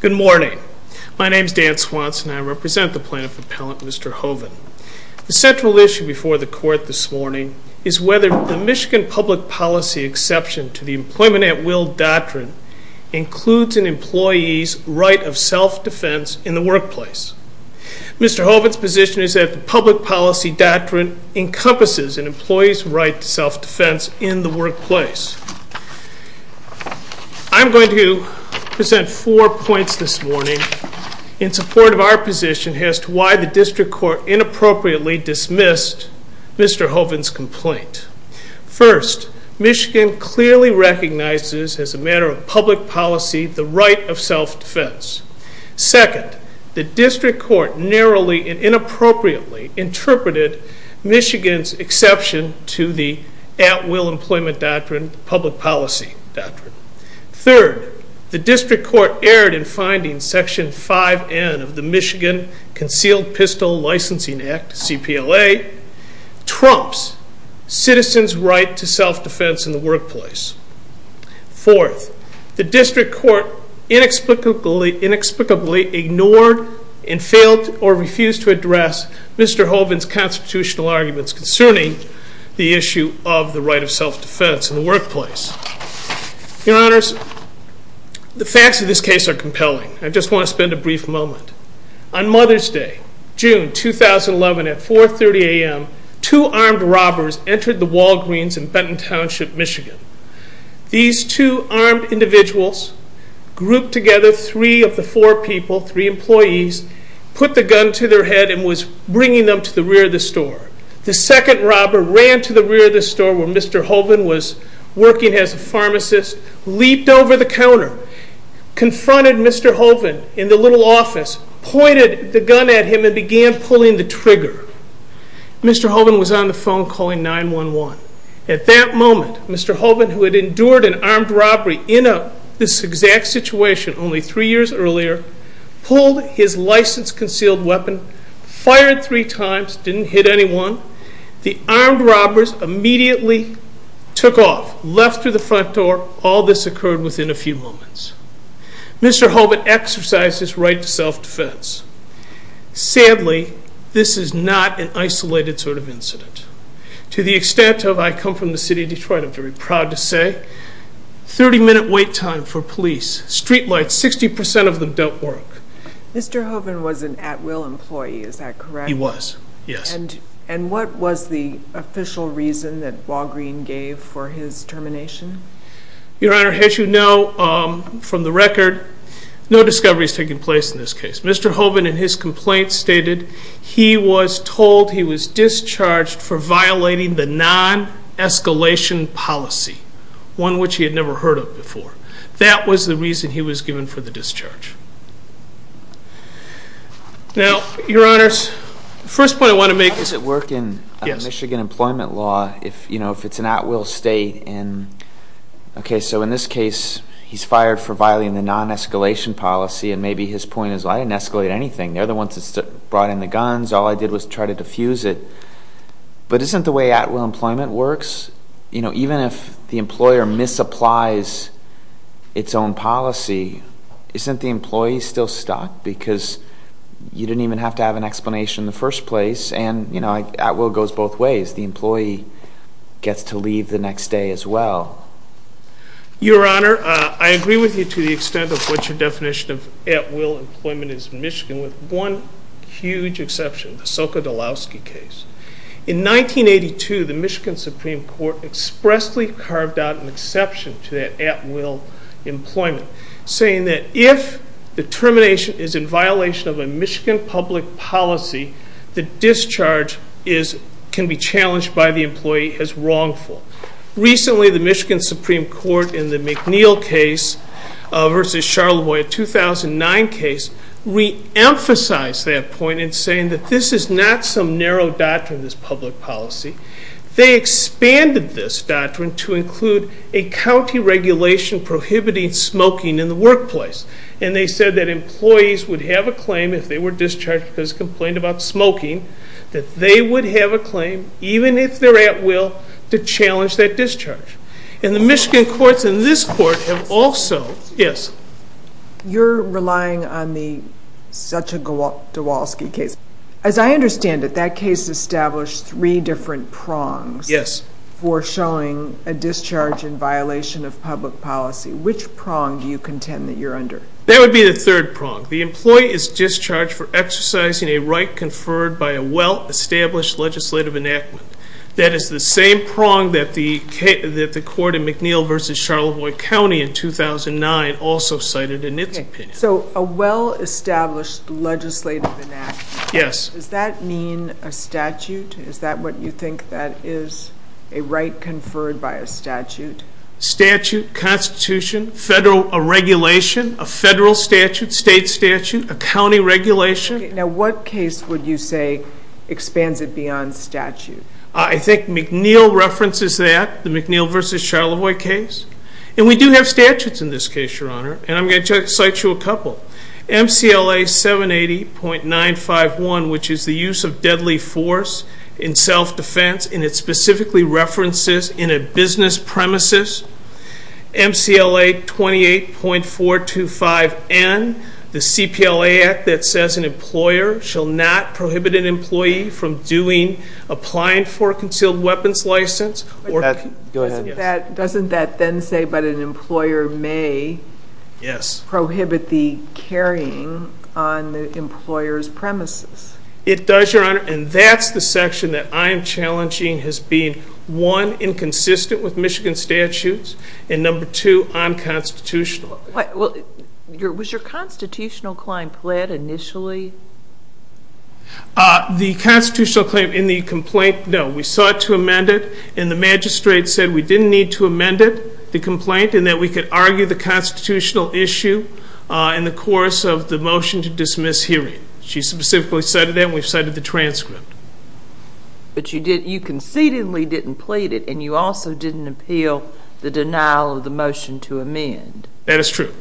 Good morning. My name is Dan Swanson and I represent the Plaintiff Appellant, Mr. Hoven. The central issue before the Court this morning is whether the Michigan public policy exception to the Employment at Will doctrine includes an employee's right of self-defense in the workplace. Mr. Hoven's position is that the public policy doctrine encompasses an employee's right to self-defense in the workplace. I'm going to present four points this morning in support of our position as to why the District Court inappropriately dismissed Mr. Hoven's complaint. First, Michigan clearly recognizes as a matter of public policy the right of self-defense. Second, the District Court narrowly and inappropriately interpreted Michigan's exception to the At Will Employment Doctrine, the public policy doctrine. Third, the District Court erred in finding Section 5N of the Michigan Concealed Pistol Licensing Act, CPLA, trumps citizens' right to self-defense in the workplace. Fourth, the District Court inexplicably ignored and failed or refused to address Mr. Hoven's constitutional arguments concerning the issue of the right of self-defense in the workplace. Your Honors, the facts of this case are compelling. I just want to spend a brief moment. On Mother's Day, June 2011 at 4.30 a.m., two armed robbers entered the Walgreens in Benton Township, Michigan. These two armed individuals grouped together three of the four people, three employees, put the gun to their head and was bringing them to the rear of the store. The second robber ran to the rear of the store where Mr. Hoven was working as a pharmacist, leaped over the counter, confronted Mr. Hoven in the little office, pointed the gun at him and began pulling the trigger. Mr. Hoven was on the phone calling 911. At that moment, Mr. Hoven, who had endured an armed robbery in this exact situation only three years earlier, pulled his license-concealed weapon, fired three times, didn't hit anyone. The armed robbers immediately took off, left through the front door. All this occurred within a few moments. Mr. Hoven exercised his right to self-defense. Sadly, this is not an isolated sort of incident. To the extent of I come from the city of Detroit, I'm very proud to say 30-minute wait time for police. Street lights, 60% of them don't work. Mr. Hoven was an at-will employee, is that correct? He was, yes. And what was the official reason that Walgreen gave for his termination? Your Honor, as you know from the record, no discovery has taken place in this case. Mr. Hoven in his complaint stated he was told he was discharged for violating the non-escalation policy, one which he had never heard of before. That was the reason he was given for the discharge. Now, Your Honors, the first point I want to make- How does it work in Michigan employment law if it's an at-will state? Okay, so in this case he's fired for violating the non-escalation policy, and maybe his point is I didn't escalate anything. They're the ones that brought in the guns. All I did was try to defuse it. But isn't the way at-will employment works, even if the employer misapplies its own policy, isn't the employee still stuck? Because you didn't even have to have an explanation in the first place, and at-will goes both ways. The employee gets to leave the next day as well. Your Honor, I agree with you to the extent of what your definition of at-will employment is in Michigan, with one huge exception, the Soka-Dolowski case. In 1982, the Michigan Supreme Court expressly carved out an exception to that at-will employment. Saying that if the termination is in violation of a Michigan public policy, the discharge can be challenged by the employee as wrongful. Recently, the Michigan Supreme Court, in the McNeil case versus Charlevoix 2009 case, re-emphasized that point in saying that this is not some narrow doctrine, this public policy. They expanded this doctrine to include a county regulation prohibiting smoking in the workplace. And they said that employees would have a claim, if they were discharged because they complained about smoking, that they would have a claim, even if they're at-will, to challenge that discharge. And the Michigan courts in this court have also... Yes? You're relying on the Soka-Dolowski case. As I understand it, that case established three different prongs... Yes. ...for showing a discharge in violation of public policy. Which prong do you contend that you're under? That would be the third prong. The employee is discharged for exercising a right conferred by a well-established legislative enactment. That is the same prong that the court in McNeil versus Charlevoix County in 2009 also cited in its opinion. So, a well-established legislative enactment. Yes. Does that mean a statute? Is that what you think that is, a right conferred by a statute? Statute, constitution, federal regulation, a federal statute, state statute, a county regulation. Now, what case would you say expands it beyond statute? I think McNeil references that, the McNeil versus Charlevoix case. And we do have statutes in this case, Your Honor, and I'm going to cite you a couple. MCLA 780.951, which is the use of deadly force in self-defense, and it specifically references in a business premises. MCLA 28.425N, the CPLA Act that says an employer shall not prohibit an employee from doing, applying for a concealed weapons license or... Go ahead. Doesn't that then say that an employer may prohibit the carrying on the employer's premises? It does, Your Honor, and that's the section that I'm challenging as being, one, inconsistent with Michigan statutes, and number two, unconstitutional. Was your constitutional claim pled initially? The constitutional claim in the complaint, no. We sought to amend it, and the magistrate said we didn't need to amend it, the complaint, and that we could argue the constitutional issue in the course of the motion to dismiss hearing. She specifically cited that, and we've cited the transcript. But you concededly didn't plead it, and you also didn't appeal the denial of the motion to amend. That is true.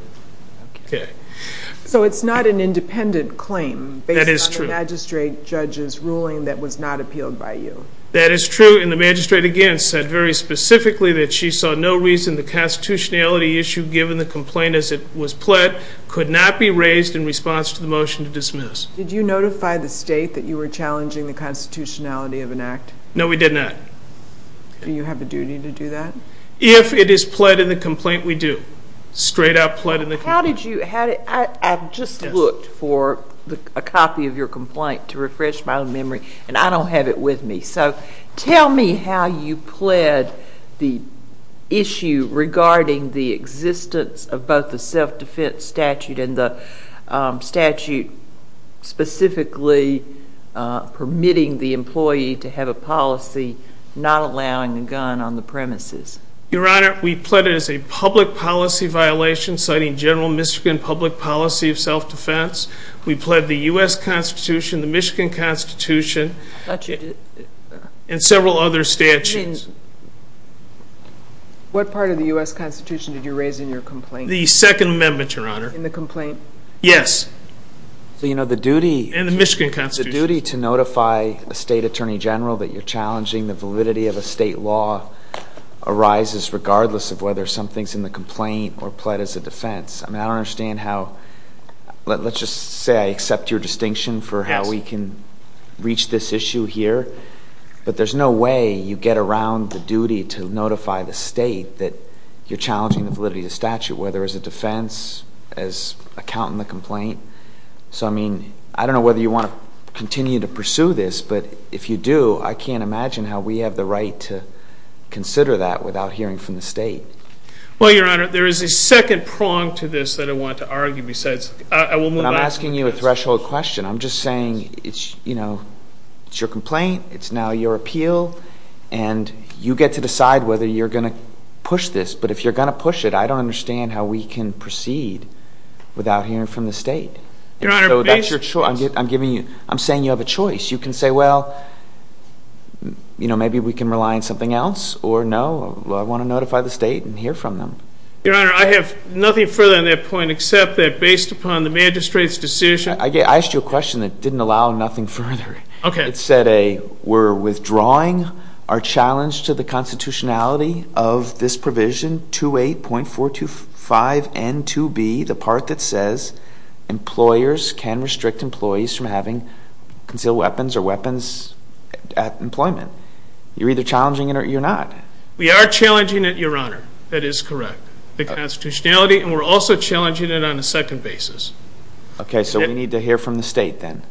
So it's not an independent claim based on the magistrate judge's ruling that was not appealed by you. That is true, and the magistrate, again, said very specifically that she saw no reason the constitutionality issue, given the complaint as it was pled, could not be raised in response to the motion to dismiss. Did you notify the state that you were challenging the constitutionality of an act? No, we did not. Do you have a duty to do that? If it is pled in the complaint, we do. Straight up pled in the complaint. I've just looked for a copy of your complaint to refresh my memory, and I don't have it with me. So tell me how you pled the issue regarding the existence of both the self-defense statute and the statute specifically permitting the employee to have a policy not allowing a gun on the premises. Your Honor, we pled it as a public policy violation citing general Michigan public policy of self-defense. We pled the U.S. Constitution, the Michigan Constitution, and several other statutes. What part of the U.S. Constitution did you raise in your complaint? The Second Amendment, Your Honor. In the complaint? Yes. And the Michigan Constitution. Your Honor, the duty to notify a state attorney general that you're challenging the validity of a state law arises regardless of whether something's in the complaint or pled as a defense. I mean, I don't understand how. Let's just say I accept your distinction for how we can reach this issue here, but there's no way you get around the duty to notify the state that you're challenging the validity of the statute, so, I mean, I don't know whether you want to continue to pursue this, but if you do, I can't imagine how we have the right to consider that without hearing from the state. Well, Your Honor, there is a second prong to this that I want to argue besides. I will move on. I'm asking you a threshold question. I'm just saying it's, you know, it's your complaint, it's now your appeal, and you get to decide whether you're going to push this, but if you're going to push it, I don't understand how we can proceed without hearing from the state. And so that's your choice. I'm saying you have a choice. You can say, well, you know, maybe we can rely on something else, or no, I want to notify the state and hear from them. Your Honor, I have nothing further on that point except that based upon the magistrate's decision. I asked you a question that didn't allow nothing further. It said, A, we're withdrawing our challenge to the constitutionality of this provision, 28.425N2B, the part that says employers can restrict employees from having concealed weapons or weapons at employment. You're either challenging it or you're not. We are challenging it, Your Honor. That is correct, the constitutionality, and we're also challenging it on a second basis. Okay, so we need to hear from the state then.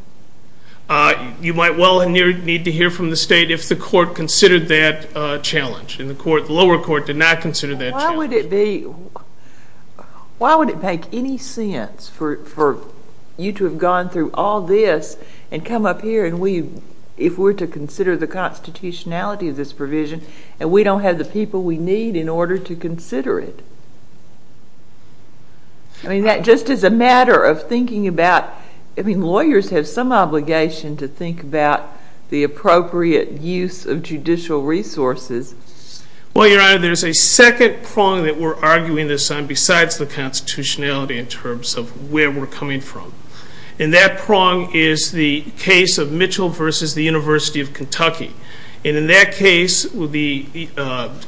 You might well need to hear from the state if the court considered that challenge, and the lower court did not consider that challenge. Why would it make any sense for you to have gone through all this and come up here if we're to consider the constitutionality of this provision and we don't have the people we need in order to consider it? I mean, that just is a matter of thinking about, I mean, lawyers have some obligation to think about the appropriate use of judicial resources. Well, Your Honor, there's a second prong that we're arguing this on besides the constitutionality in terms of where we're coming from, and that prong is the case of Mitchell v. The University of Kentucky. And in that case, the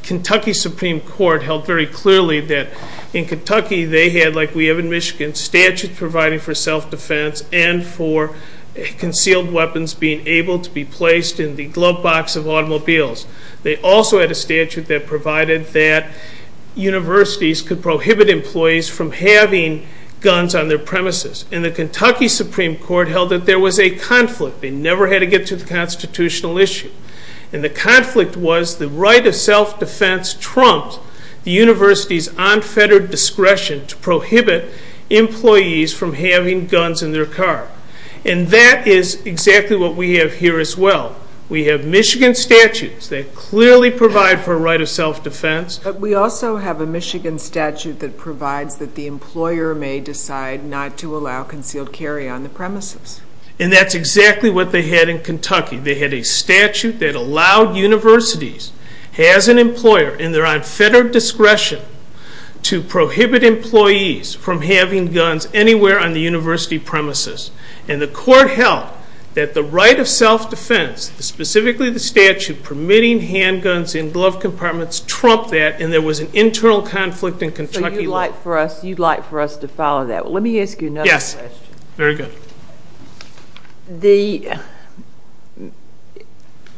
Kentucky Supreme Court held very clearly that in Kentucky they had, like we have in Michigan, statutes providing for self-defense and for concealed weapons being able to be placed in the glove box of automobiles. They also had a statute that provided that universities could prohibit employees from having guns on their premises. And the Kentucky Supreme Court held that there was a conflict. They never had to get to the constitutional issue. And the conflict was the right of self-defense trumped the university's unfettered discretion to prohibit employees from having guns in their car. And that is exactly what we have here as well. We have Michigan statutes that clearly provide for a right of self-defense. But we also have a Michigan statute that provides that the employer may decide not to allow concealed carry on the premises. And that's exactly what they had in Kentucky. They had a statute that allowed universities, as an employer, in their unfettered discretion to prohibit employees from having guns anywhere on the university premises. And the court held that the right of self-defense, specifically the statute permitting handguns in glove compartments, trumped that and there was an internal conflict in Kentucky law. So you'd like for us to follow that. Let me ask you another question. Very good.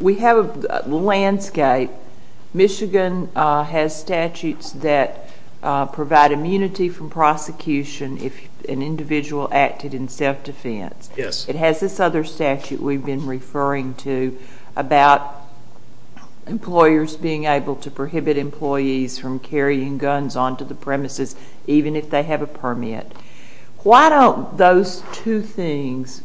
We have a landscape. Michigan has statutes that provide immunity from prosecution if an individual acted in self-defense. Yes. It has this other statute we've been referring to about employers being able to prohibit employees from carrying guns onto the premises even if they have a permit. Why don't those two things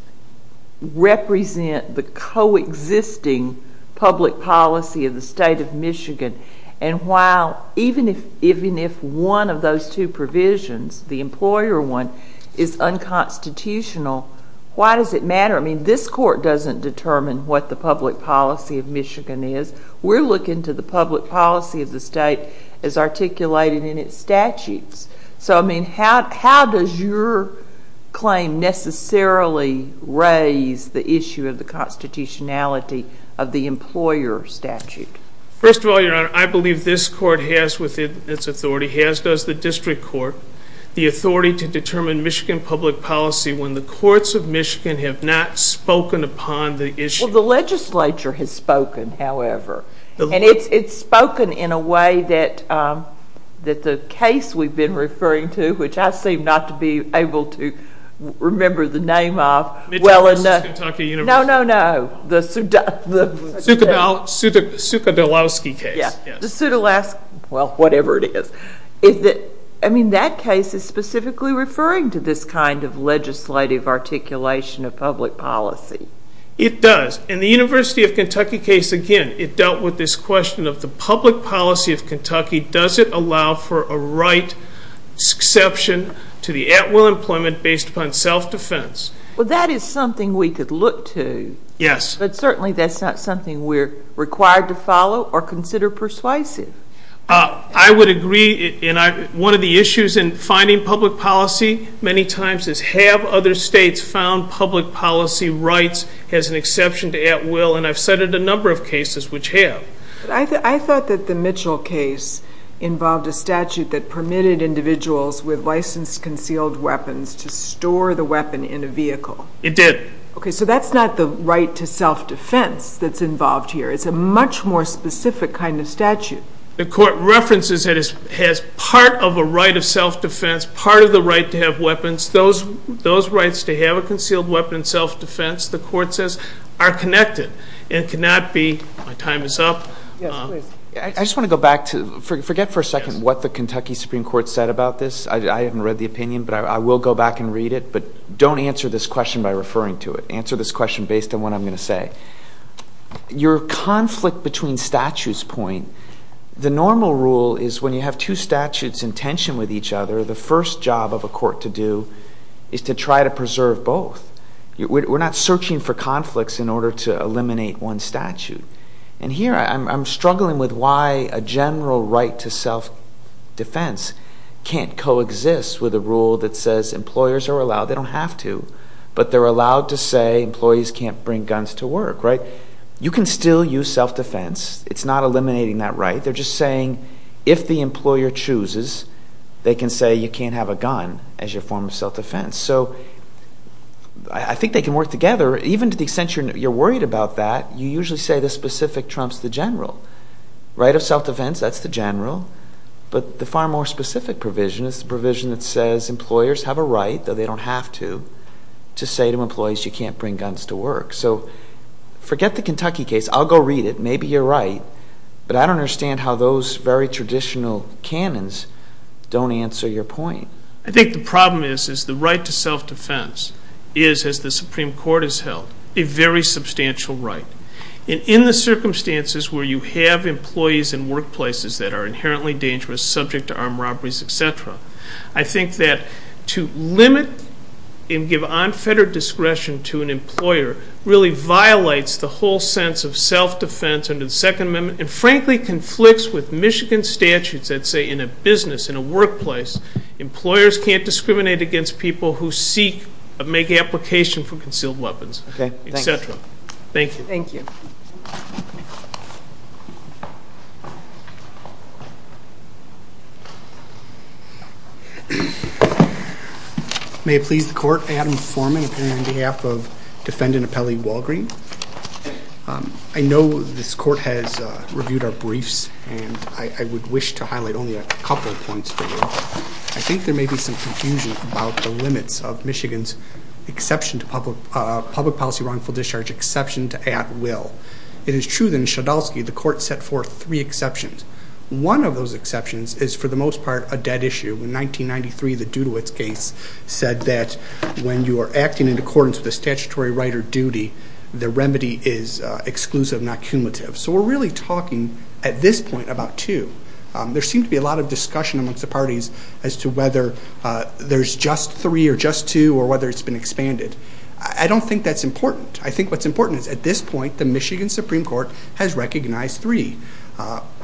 represent the coexisting public policy of the state of Michigan? And while even if one of those two provisions, the employer one, is unconstitutional, why does it matter? I mean, this court doesn't determine what the public policy of Michigan is. We're looking to the public policy of the state as articulated in its statutes. So, I mean, how does your claim necessarily raise the issue of the constitutionality of the employer statute? First of all, Your Honor, I believe this court has within its authority, as does the district court, the authority to determine Michigan public policy when the courts of Michigan have not spoken upon the issue. Well, the legislature has spoken, however. And it's spoken in a way that the case we've been referring to, which I seem not to be able to remember the name of. Mitchell versus Kentucky University. No, no, no. The Sudolowski case. Yeah. The Sudolowski, well, whatever it is. I mean, that case is specifically referring to this kind of legislative articulation of public policy. It does. In the University of Kentucky case, again, it dealt with this question of the public policy of Kentucky. Does it allow for a right exception to the at-will employment based upon self-defense? Well, that is something we could look to. Yes. But certainly that's not something we're required to follow or consider persuasive. I would agree. One of the issues in finding public policy many times is have other states found public policy rights as an exception to at-will? And I've cited a number of cases which have. I thought that the Mitchell case involved a statute that permitted individuals with licensed concealed weapons to store the weapon in a vehicle. It did. Okay, so that's not the right to self-defense that's involved here. It's a much more specific kind of statute. The court references that it has part of a right of self-defense, part of the right to have weapons. Those rights to have a concealed weapon in self-defense, the court says, are connected and cannot be my time is up. Yes, please. I just want to go back to forget for a second what the Kentucky Supreme Court said about this. I haven't read the opinion, but I will go back and read it. But don't answer this question by referring to it. Answer this question based on what I'm going to say. Your conflict between statutes point. The normal rule is when you have two statutes in tension with each other, the first job of a court to do is to try to preserve both. We're not searching for conflicts in order to eliminate one statute. And here I'm struggling with why a general right to self-defense can't coexist with a rule that says employers are allowed, they don't have to, but they're allowed to say employees can't bring guns to work, right? You can still use self-defense. It's not eliminating that right. They're just saying if the employer chooses, they can say you can't have a gun as your form of self-defense. So I think they can work together. Even to the extent you're worried about that, you usually say the specific trumps the general. Right of self-defense, that's the general. But the far more specific provision is the provision that says employers have a right, though they don't have to, to say to employees you can't bring guns to work. So forget the Kentucky case. I'll go read it. Maybe you're right. But I don't understand how those very traditional canons don't answer your point. I think the problem is the right to self-defense is, as the Supreme Court has held, a very substantial right. And in the circumstances where you have employees in workplaces that are inherently dangerous, subject to armed robberies, et cetera, I think that to limit and give unfettered discretion to an employer really violates the whole sense of self-defense under the Second Amendment and frankly conflicts with Michigan statutes that say in a business, in a workplace, employers can't discriminate against people who seek or make application for concealed weapons, et cetera. Thank you. Thank you. Thank you. May it please the Court, Adam Foreman, appearing on behalf of Defendant Apelli Walgreen. I know this Court has reviewed our briefs, and I would wish to highlight only a couple points for you. I think there may be some confusion about the limits of Michigan's public policy wrongful discharge exception to at will. It is true that in Shodolsky, the Court set forth three exceptions. One of those exceptions is, for the most part, a dead issue. In 1993, the Dudowitz case said that when you are acting in accordance with a statutory right or duty, the remedy is exclusive, not cumulative. So we're really talking, at this point, about two. There seems to be a lot of discussion amongst the parties as to whether there's just three or just two or whether it's been expanded. I don't think that's important. I think what's important is, at this point, the Michigan Supreme Court has recognized three.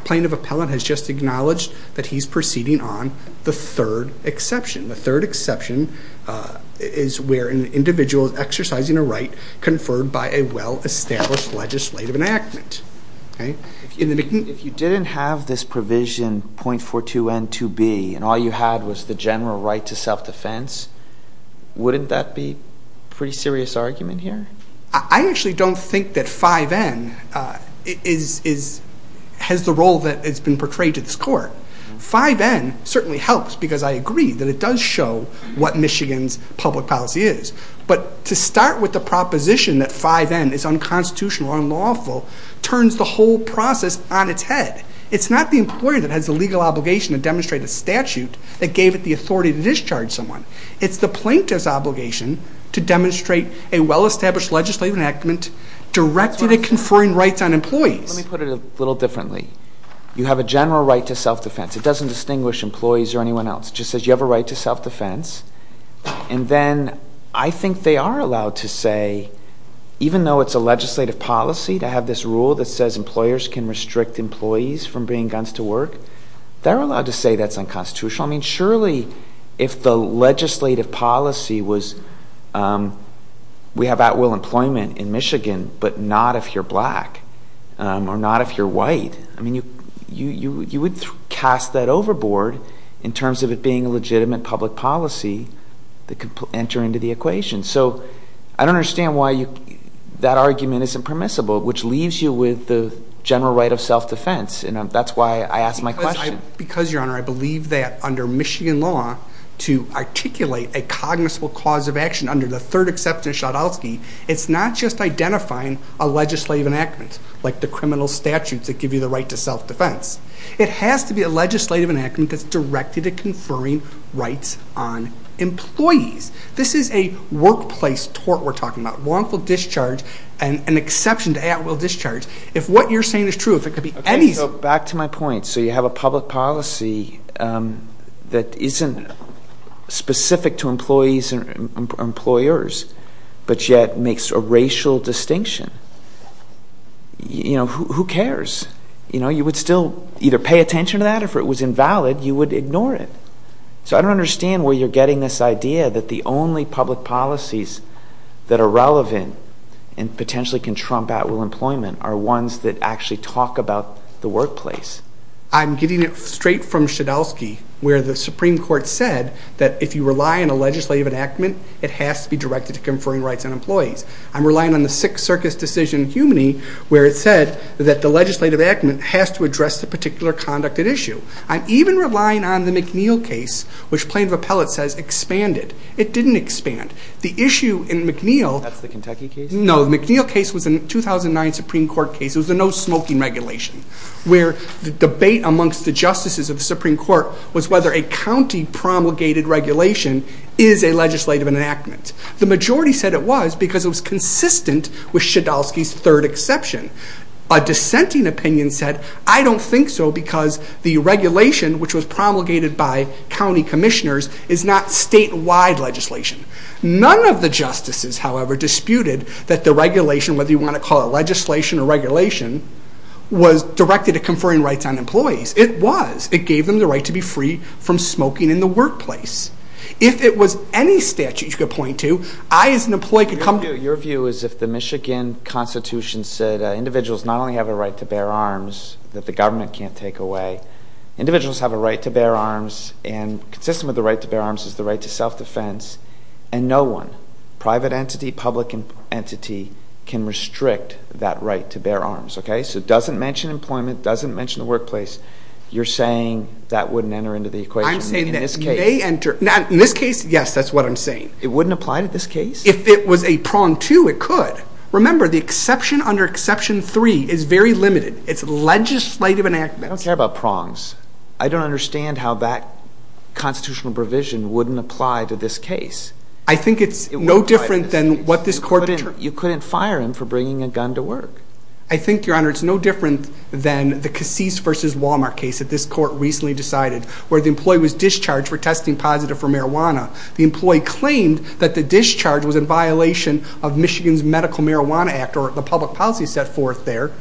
Plaintiff Appellant has just acknowledged that he's proceeding on the third exception. The third exception is where an individual is exercising a right conferred by a well-established legislative enactment. If you didn't have this provision, .42N2B, and all you had was the general right to self-defense, wouldn't that be a pretty serious argument here? I actually don't think that 5N has the role that has been portrayed to this Court. 5N certainly helps because I agree that it does show what Michigan's public policy is. But to start with the proposition that 5N is unconstitutional, unlawful, turns the whole process on its head. It's not the employer that has the legal obligation to demonstrate a statute that gave it the authority to discharge someone. It's the plaintiff's obligation to demonstrate a well-established legislative enactment directed at conferring rights on employees. Let me put it a little differently. You have a general right to self-defense. It doesn't distinguish employees or anyone else. It just says you have a right to self-defense. And then I think they are allowed to say, even though it's a legislative policy to have this rule that says employers can restrict employees from bringing guns to work, they're allowed to say that's unconstitutional. I mean, surely if the legislative policy was, we have at-will employment in Michigan, but not if you're black or not if you're white. I mean, you would cast that overboard in terms of it being a legitimate public policy that could enter into the equation. So I don't understand why that argument isn't permissible, which leaves you with the general right of self-defense. And that's why I ask my question. Because, Your Honor, I believe that under Michigan law, to articulate a cognizable cause of action under the third exception of Schotowski, it's not just identifying a legislative enactment, like the criminal statutes that give you the right to self-defense. It has to be a legislative enactment that's directed at conferring rights on employees. This is a workplace tort we're talking about, wrongful discharge and an exception to at-will discharge. If what you're saying is true, if it could be any... Okay, so back to my point. So you have a public policy that isn't specific to employees and employers, but yet makes a racial distinction. You know, who cares? You know, you would still either pay attention to that, or if it was invalid, you would ignore it. So I don't understand where you're getting this idea that the only public policies that are relevant and potentially can trump at-will employment are ones that actually talk about the workplace. I'm getting it straight from Schotowski, where the Supreme Court said that if you rely on a legislative enactment, it has to be directed to conferring rights on employees. I'm relying on the Sixth Circus decision in Humaney, where it said that the legislative enactment has to address the particular conduct at issue. I'm even relying on the McNeil case, which plaintiff appellate says expanded. It didn't expand. The issue in McNeil... That's the Kentucky case? No, the McNeil case was a 2009 Supreme Court case. It was a no-smoking regulation, where the debate amongst the justices of the Supreme Court was whether a county-promulgated regulation is a legislative enactment. The majority said it was because it was consistent with Schotowski's third exception. A dissenting opinion said, I don't think so because the regulation, which was promulgated by county commissioners, is not statewide legislation. None of the justices, however, disputed that the regulation, whether you want to call it legislation or regulation, was directed at conferring rights on employees. It was. It gave them the right to be free from smoking in the workplace. If it was any statute you could point to, I as an employee could come... Your view is if the Michigan Constitution said individuals not only have a right to bear arms that the government can't take away, but individuals have a right to bear arms and consistent with the right to bear arms is the right to self-defense, and no one, private entity, public entity, can restrict that right to bear arms. So it doesn't mention employment, doesn't mention the workplace. You're saying that wouldn't enter into the equation in this case. I'm saying that may enter. In this case, yes, that's what I'm saying. It wouldn't apply to this case? If it was a prong two, it could. Remember, the exception under exception three is very limited. It's legislative enactment. I don't care about prongs. I don't understand how that constitutional provision wouldn't apply to this case. I think it's no different than what this court... You couldn't fire him for bringing a gun to work. I think, Your Honor, it's no different than the Casiz v. Walmart case that this court recently decided where the employee was discharged for testing positive for marijuana. The employee claimed that the discharge was in violation of Michigan's Medical Marijuana Act or the public policy set forth there,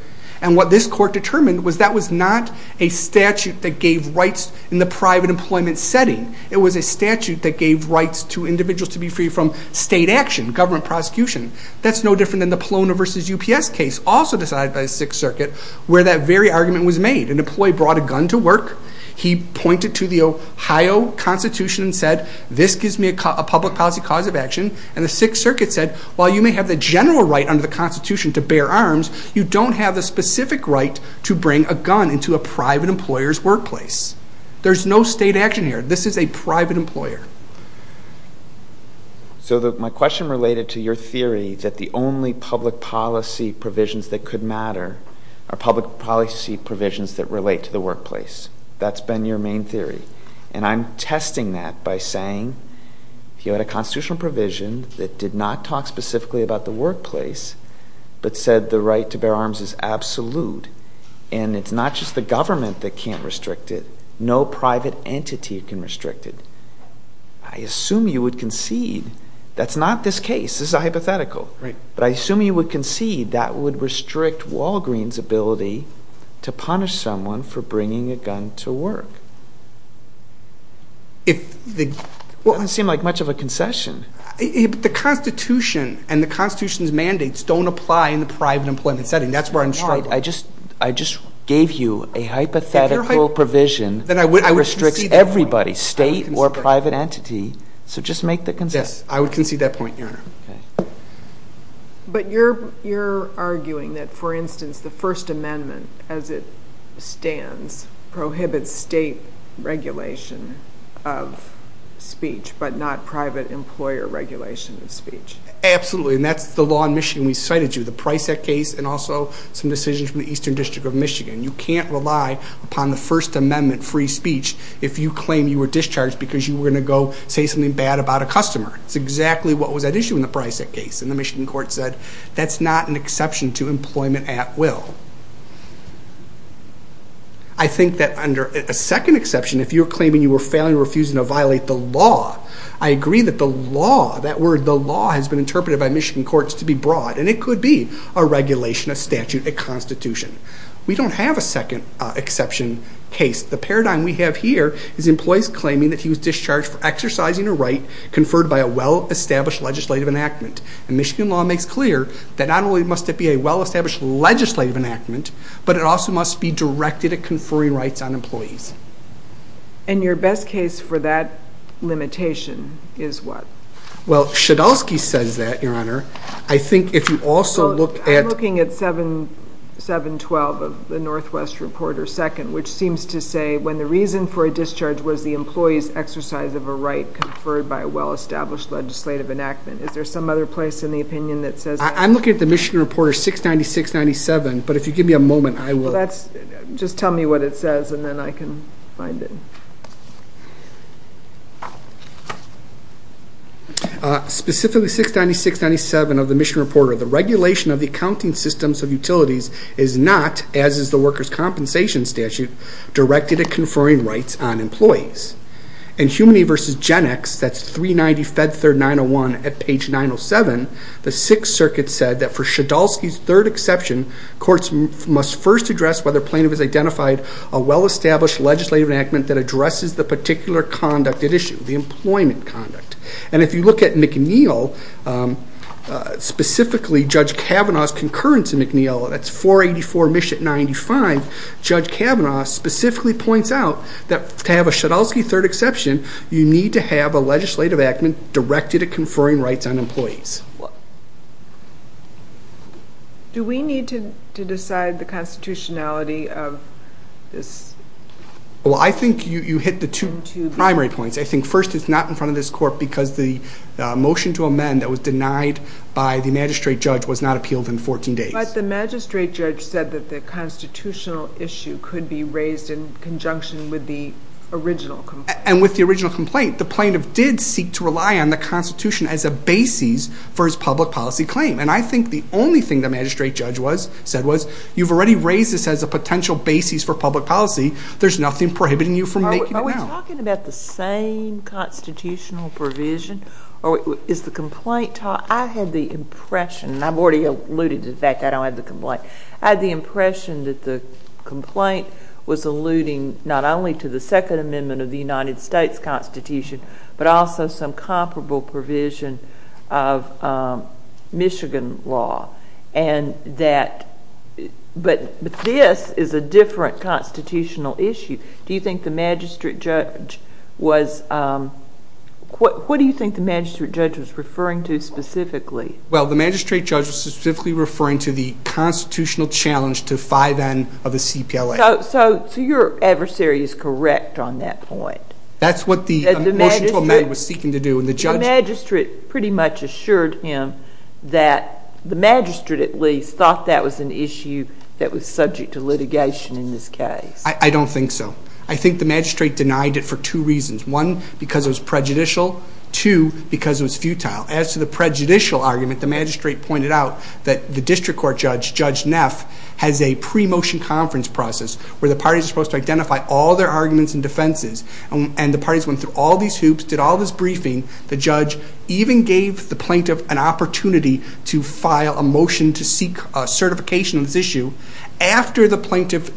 and what this court determined was that was not a statute that gave rights in the private employment setting. It was a statute that gave rights to individuals to be free from state action, government prosecution. That's no different than the Polona v. UPS case, also decided by the Sixth Circuit, where that very argument was made. An employee brought a gun to work. He pointed to the Ohio Constitution and said, this gives me a public policy cause of action, and the Sixth Circuit said, while you may have the general right under the Constitution to bear arms, you don't have the specific right to bring a gun into a private employer's workplace. There's no state action here. This is a private employer. So my question related to your theory that the only public policy provisions that could matter are public policy provisions that relate to the workplace. That's been your main theory, and I'm testing that by saying, if you had a constitutional provision that did not talk specifically about the workplace but said the right to bear arms is absolute, and it's not just the government that can't restrict it, no private entity can restrict it, I assume you would concede that's not this case. This is a hypothetical. But I assume you would concede that would restrict Walgreen's ability to punish someone for bringing a gun to work. It doesn't seem like much of a concession. The Constitution and the Constitution's mandates don't apply in the private employment setting. That's where I'm struggling. I just gave you a hypothetical provision that restricts everybody, state or private entity. So just make the concession. Yes, I would concede that point, Your Honor. But you're arguing that, for instance, the First Amendment, as it stands, prohibits state regulation of speech but not private employer regulation of speech. Absolutely, and that's the law in Michigan we cited to you, the Price Act case and also some decisions from the Eastern District of Michigan. You can't rely upon the First Amendment free speech if you claim you were discharged because you were going to go say something bad about a customer. It's exactly what was at issue in the Price Act case, and the Michigan court said that's not an exception to employment at will. I think that under a second exception, if you're claiming you were failing or refusing to violate the law, I agree that the law, that word the law, has been interpreted by Michigan courts to be broad, and it could be a regulation, a statute, a constitution. We don't have a second exception case. The paradigm we have here is employees claiming that he was discharged for exercising a right conferred by a well-established legislative enactment. And Michigan law makes clear that not only must it be a well-established legislative enactment, but it also must be directed at conferring rights on employees. And your best case for that limitation is what? Well, Shedelsky says that, Your Honor. I think if you also look at... I'm looking at 7.12 of the Northwest Reporter, 2nd, which seems to say when the reason for a discharge was the employee's exercise of a right conferred by a well-established legislative enactment. Is there some other place in the opinion that says that? I'm looking at the Michigan Reporter 696.97, but if you give me a moment, I will... Just tell me what it says, and then I can find it. Specifically, 696.97 of the Michigan Reporter, the regulation of the accounting systems of utilities is not, as is the workers' compensation statute, directed at conferring rights on employees. And Humaney v. GenX, that's 390 Fed Third 901 at page 907, the Sixth Circuit said that for Shedelsky's third exception, courts must first address whether a plaintiff has identified a well-established legislative enactment that addresses the particular conduct at issue, the employment conduct. And if you look at McNeil, specifically Judge Kavanaugh's concurrence in McNeil, that's 484 Mission 95, Judge Kavanaugh specifically points out that to have a Shedelsky third exception, you need to have a legislative enactment directed at conferring rights on employees. Do we need to decide the constitutionality of this? Well, I think you hit the two primary points. I think first it's not in front of this court because the motion to amend that was denied by the magistrate judge was not appealed in 14 days. But the magistrate judge said that the constitutional issue could be raised in conjunction with the original complaint. And with the original complaint, the plaintiff did seek to rely on the constitution as a basis for his public policy claim. And I think the only thing the magistrate judge said was, you've already raised this as a potential basis for public policy. There's nothing prohibiting you from making it now. Are we talking about the same constitutional provision or is the complaint taught? I had the impression, and I've already alluded to the fact that I don't have the complaint. I had the impression that the complaint was alluding not only to the Second Amendment of the United States Constitution, but also some comparable provision of Michigan law. But this is a different constitutional issue. What do you think the magistrate judge was referring to specifically? Well, the magistrate judge was specifically referring to the constitutional challenge to 5N of the CPLA. So your adversary is correct on that point. That's what the motion to amend was seeking to do. The magistrate pretty much assured him that the magistrate at least thought that was an issue that was subject to litigation in this case. I don't think so. I think the magistrate denied it for two reasons. One, because it was prejudicial. Two, because it was futile. As to the prejudicial argument, the magistrate pointed out that the district court judge, Judge Neff, has a pre-motion conference process where the parties are supposed to identify all their arguments and defenses. And the parties went through all these hoops, did all this briefing. The judge even gave the plaintiff an opportunity to file a motion to seek certification on this issue. After the plaintiff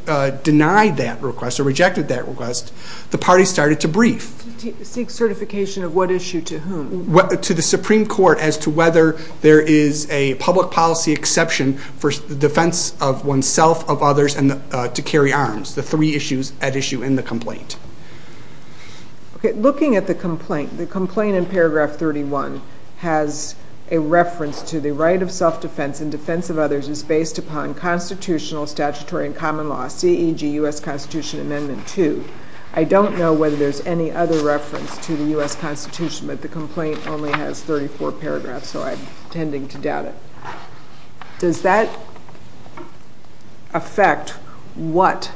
denied that request or rejected that request, the parties started to brief. Seek certification of what issue to whom? To the Supreme Court as to whether there is a public policy exception for the defense of oneself, of others, and to carry arms, the three issues at issue in the complaint. Looking at the complaint, the complaint in paragraph 31 has a reference to the right of self-defense and defense of others is based upon constitutional statutory and common law, C.E.G. U.S. Constitution Amendment 2. I don't know whether there's any other reference to the U.S. Constitution, but the complaint only has 34 paragraphs, so I'm tending to doubt it. Does that affect what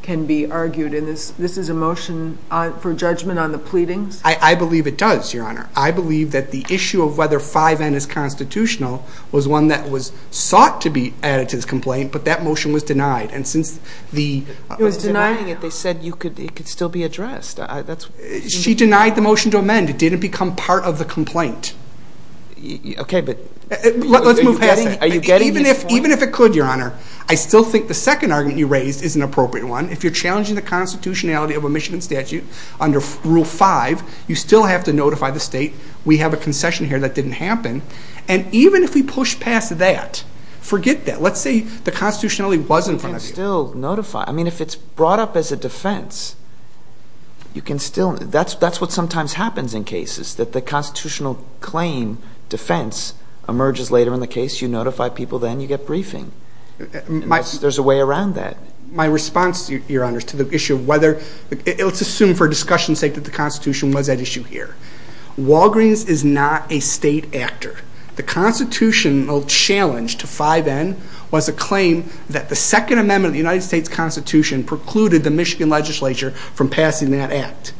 can be argued in this? This is a motion for judgment on the pleadings? I believe it does, Your Honor. I believe that the issue of whether 5N is constitutional was one that was sought to be added to this complaint, but that motion was denied. It was denying it. They said it could still be addressed. She denied the motion to amend. It didn't become part of the complaint. Okay, but are you getting this point? Even if it could, Your Honor, I still think the second argument you raised is an appropriate one. If you're challenging the constitutionality of a Michigan statute under Rule 5, you still have to notify the state, we have a concession here that didn't happen. And even if we push past that, forget that. Let's say the constitutionality was in front of you. You can still notify. I mean, if it's brought up as a defense, you can still. That's what sometimes happens in cases, that the constitutional claim defense emerges later in the case. You notify people then. You get briefing. There's a way around that. My response, Your Honor, to the issue of whether, let's assume for discussion's sake that the constitution was at issue here. Walgreens is not a state actor. The constitutional challenge to 5N was a claim that the Second Amendment of the United States Constitution precluded the Michigan legislature from passing that act.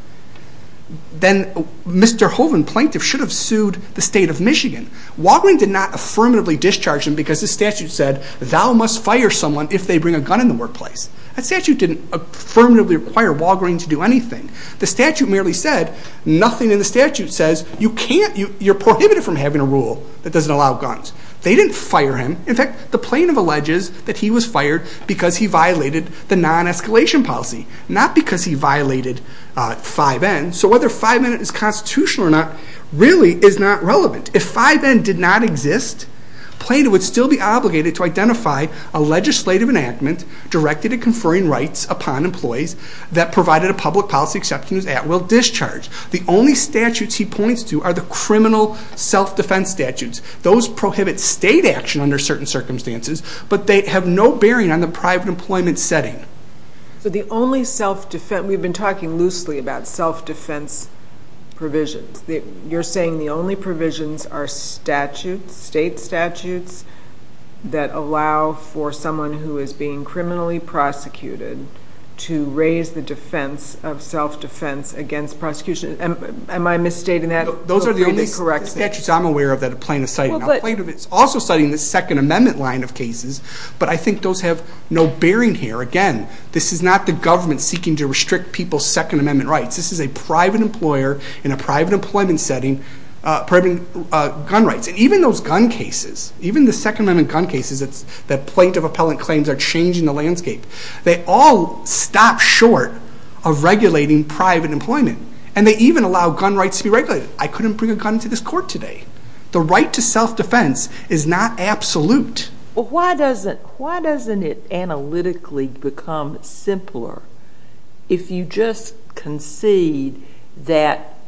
Then Mr. Hoeven, plaintiff, should have sued the state of Michigan. Walgreens did not affirmatively discharge him because the statute said, thou must fire someone if they bring a gun in the workplace. That statute didn't affirmatively require Walgreens to do anything. The statute merely said, nothing in the statute says you can't, you're prohibited from having a rule that doesn't allow guns. They didn't fire him. In fact, the plaintiff alleges that he was fired because he violated the non-escalation policy, not because he violated 5N. So whether 5N is constitutional or not really is not relevant. If 5N did not exist, plaintiff would still be obligated to identify a legislative enactment directed at conferring rights upon employees that provided a public policy exception at will discharge. The only statutes he points to are the criminal self-defense statutes. Those prohibit state action under certain circumstances, but they have no bearing on the private employment setting. So the only self-defense, we've been talking loosely about self-defense provisions. You're saying the only provisions are statutes, state statutes, that allow for someone who is being criminally prosecuted to raise the defense of self-defense against prosecution. Am I misstating that? Those are the only statutes I'm aware of that the plaintiff cited. Now, the plaintiff is also citing the Second Amendment line of cases, but I think those have no bearing here. Again, this is not the government seeking to restrict people's Second Amendment rights. This is a private employer in a private employment setting providing gun rights. And even those gun cases, even the Second Amendment gun cases that plaintiff appellant claims are changing the landscape, they all stop short of regulating private employment. And they even allow gun rights to be regulated. I couldn't bring a gun to this court today. The right to self-defense is not absolute. Well, why doesn't it analytically become simpler if you just concede that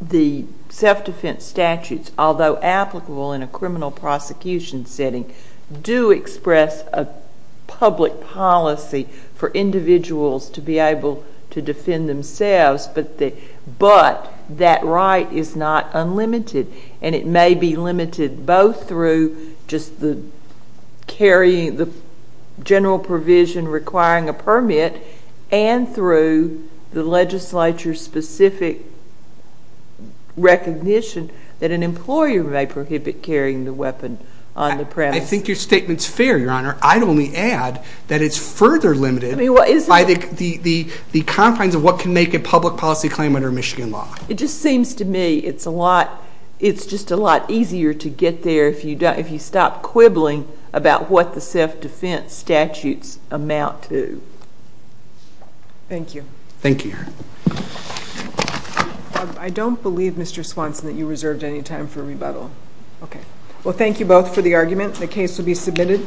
the self-defense statutes, although applicable in a criminal prosecution setting, do express a public policy for individuals to be able to defend themselves, but that right is not unlimited. And it may be limited both through just the general provision requiring a permit and through the legislature-specific recognition that an employer may prohibit carrying the weapon on the premise. I think your statement's fair, Your Honor. I'd only add that it's further limited by the confines of what can make a public policy claim under Michigan law. It just seems to me it's just a lot easier to get there if you stop quibbling about what the self-defense statutes amount to. Thank you. Thank you, Your Honor. I don't believe, Mr. Swanson, that you reserved any time for rebuttal. Okay. Well, thank you both for the argument. The case will be submitted.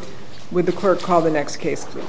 Would the clerk call the next case, please?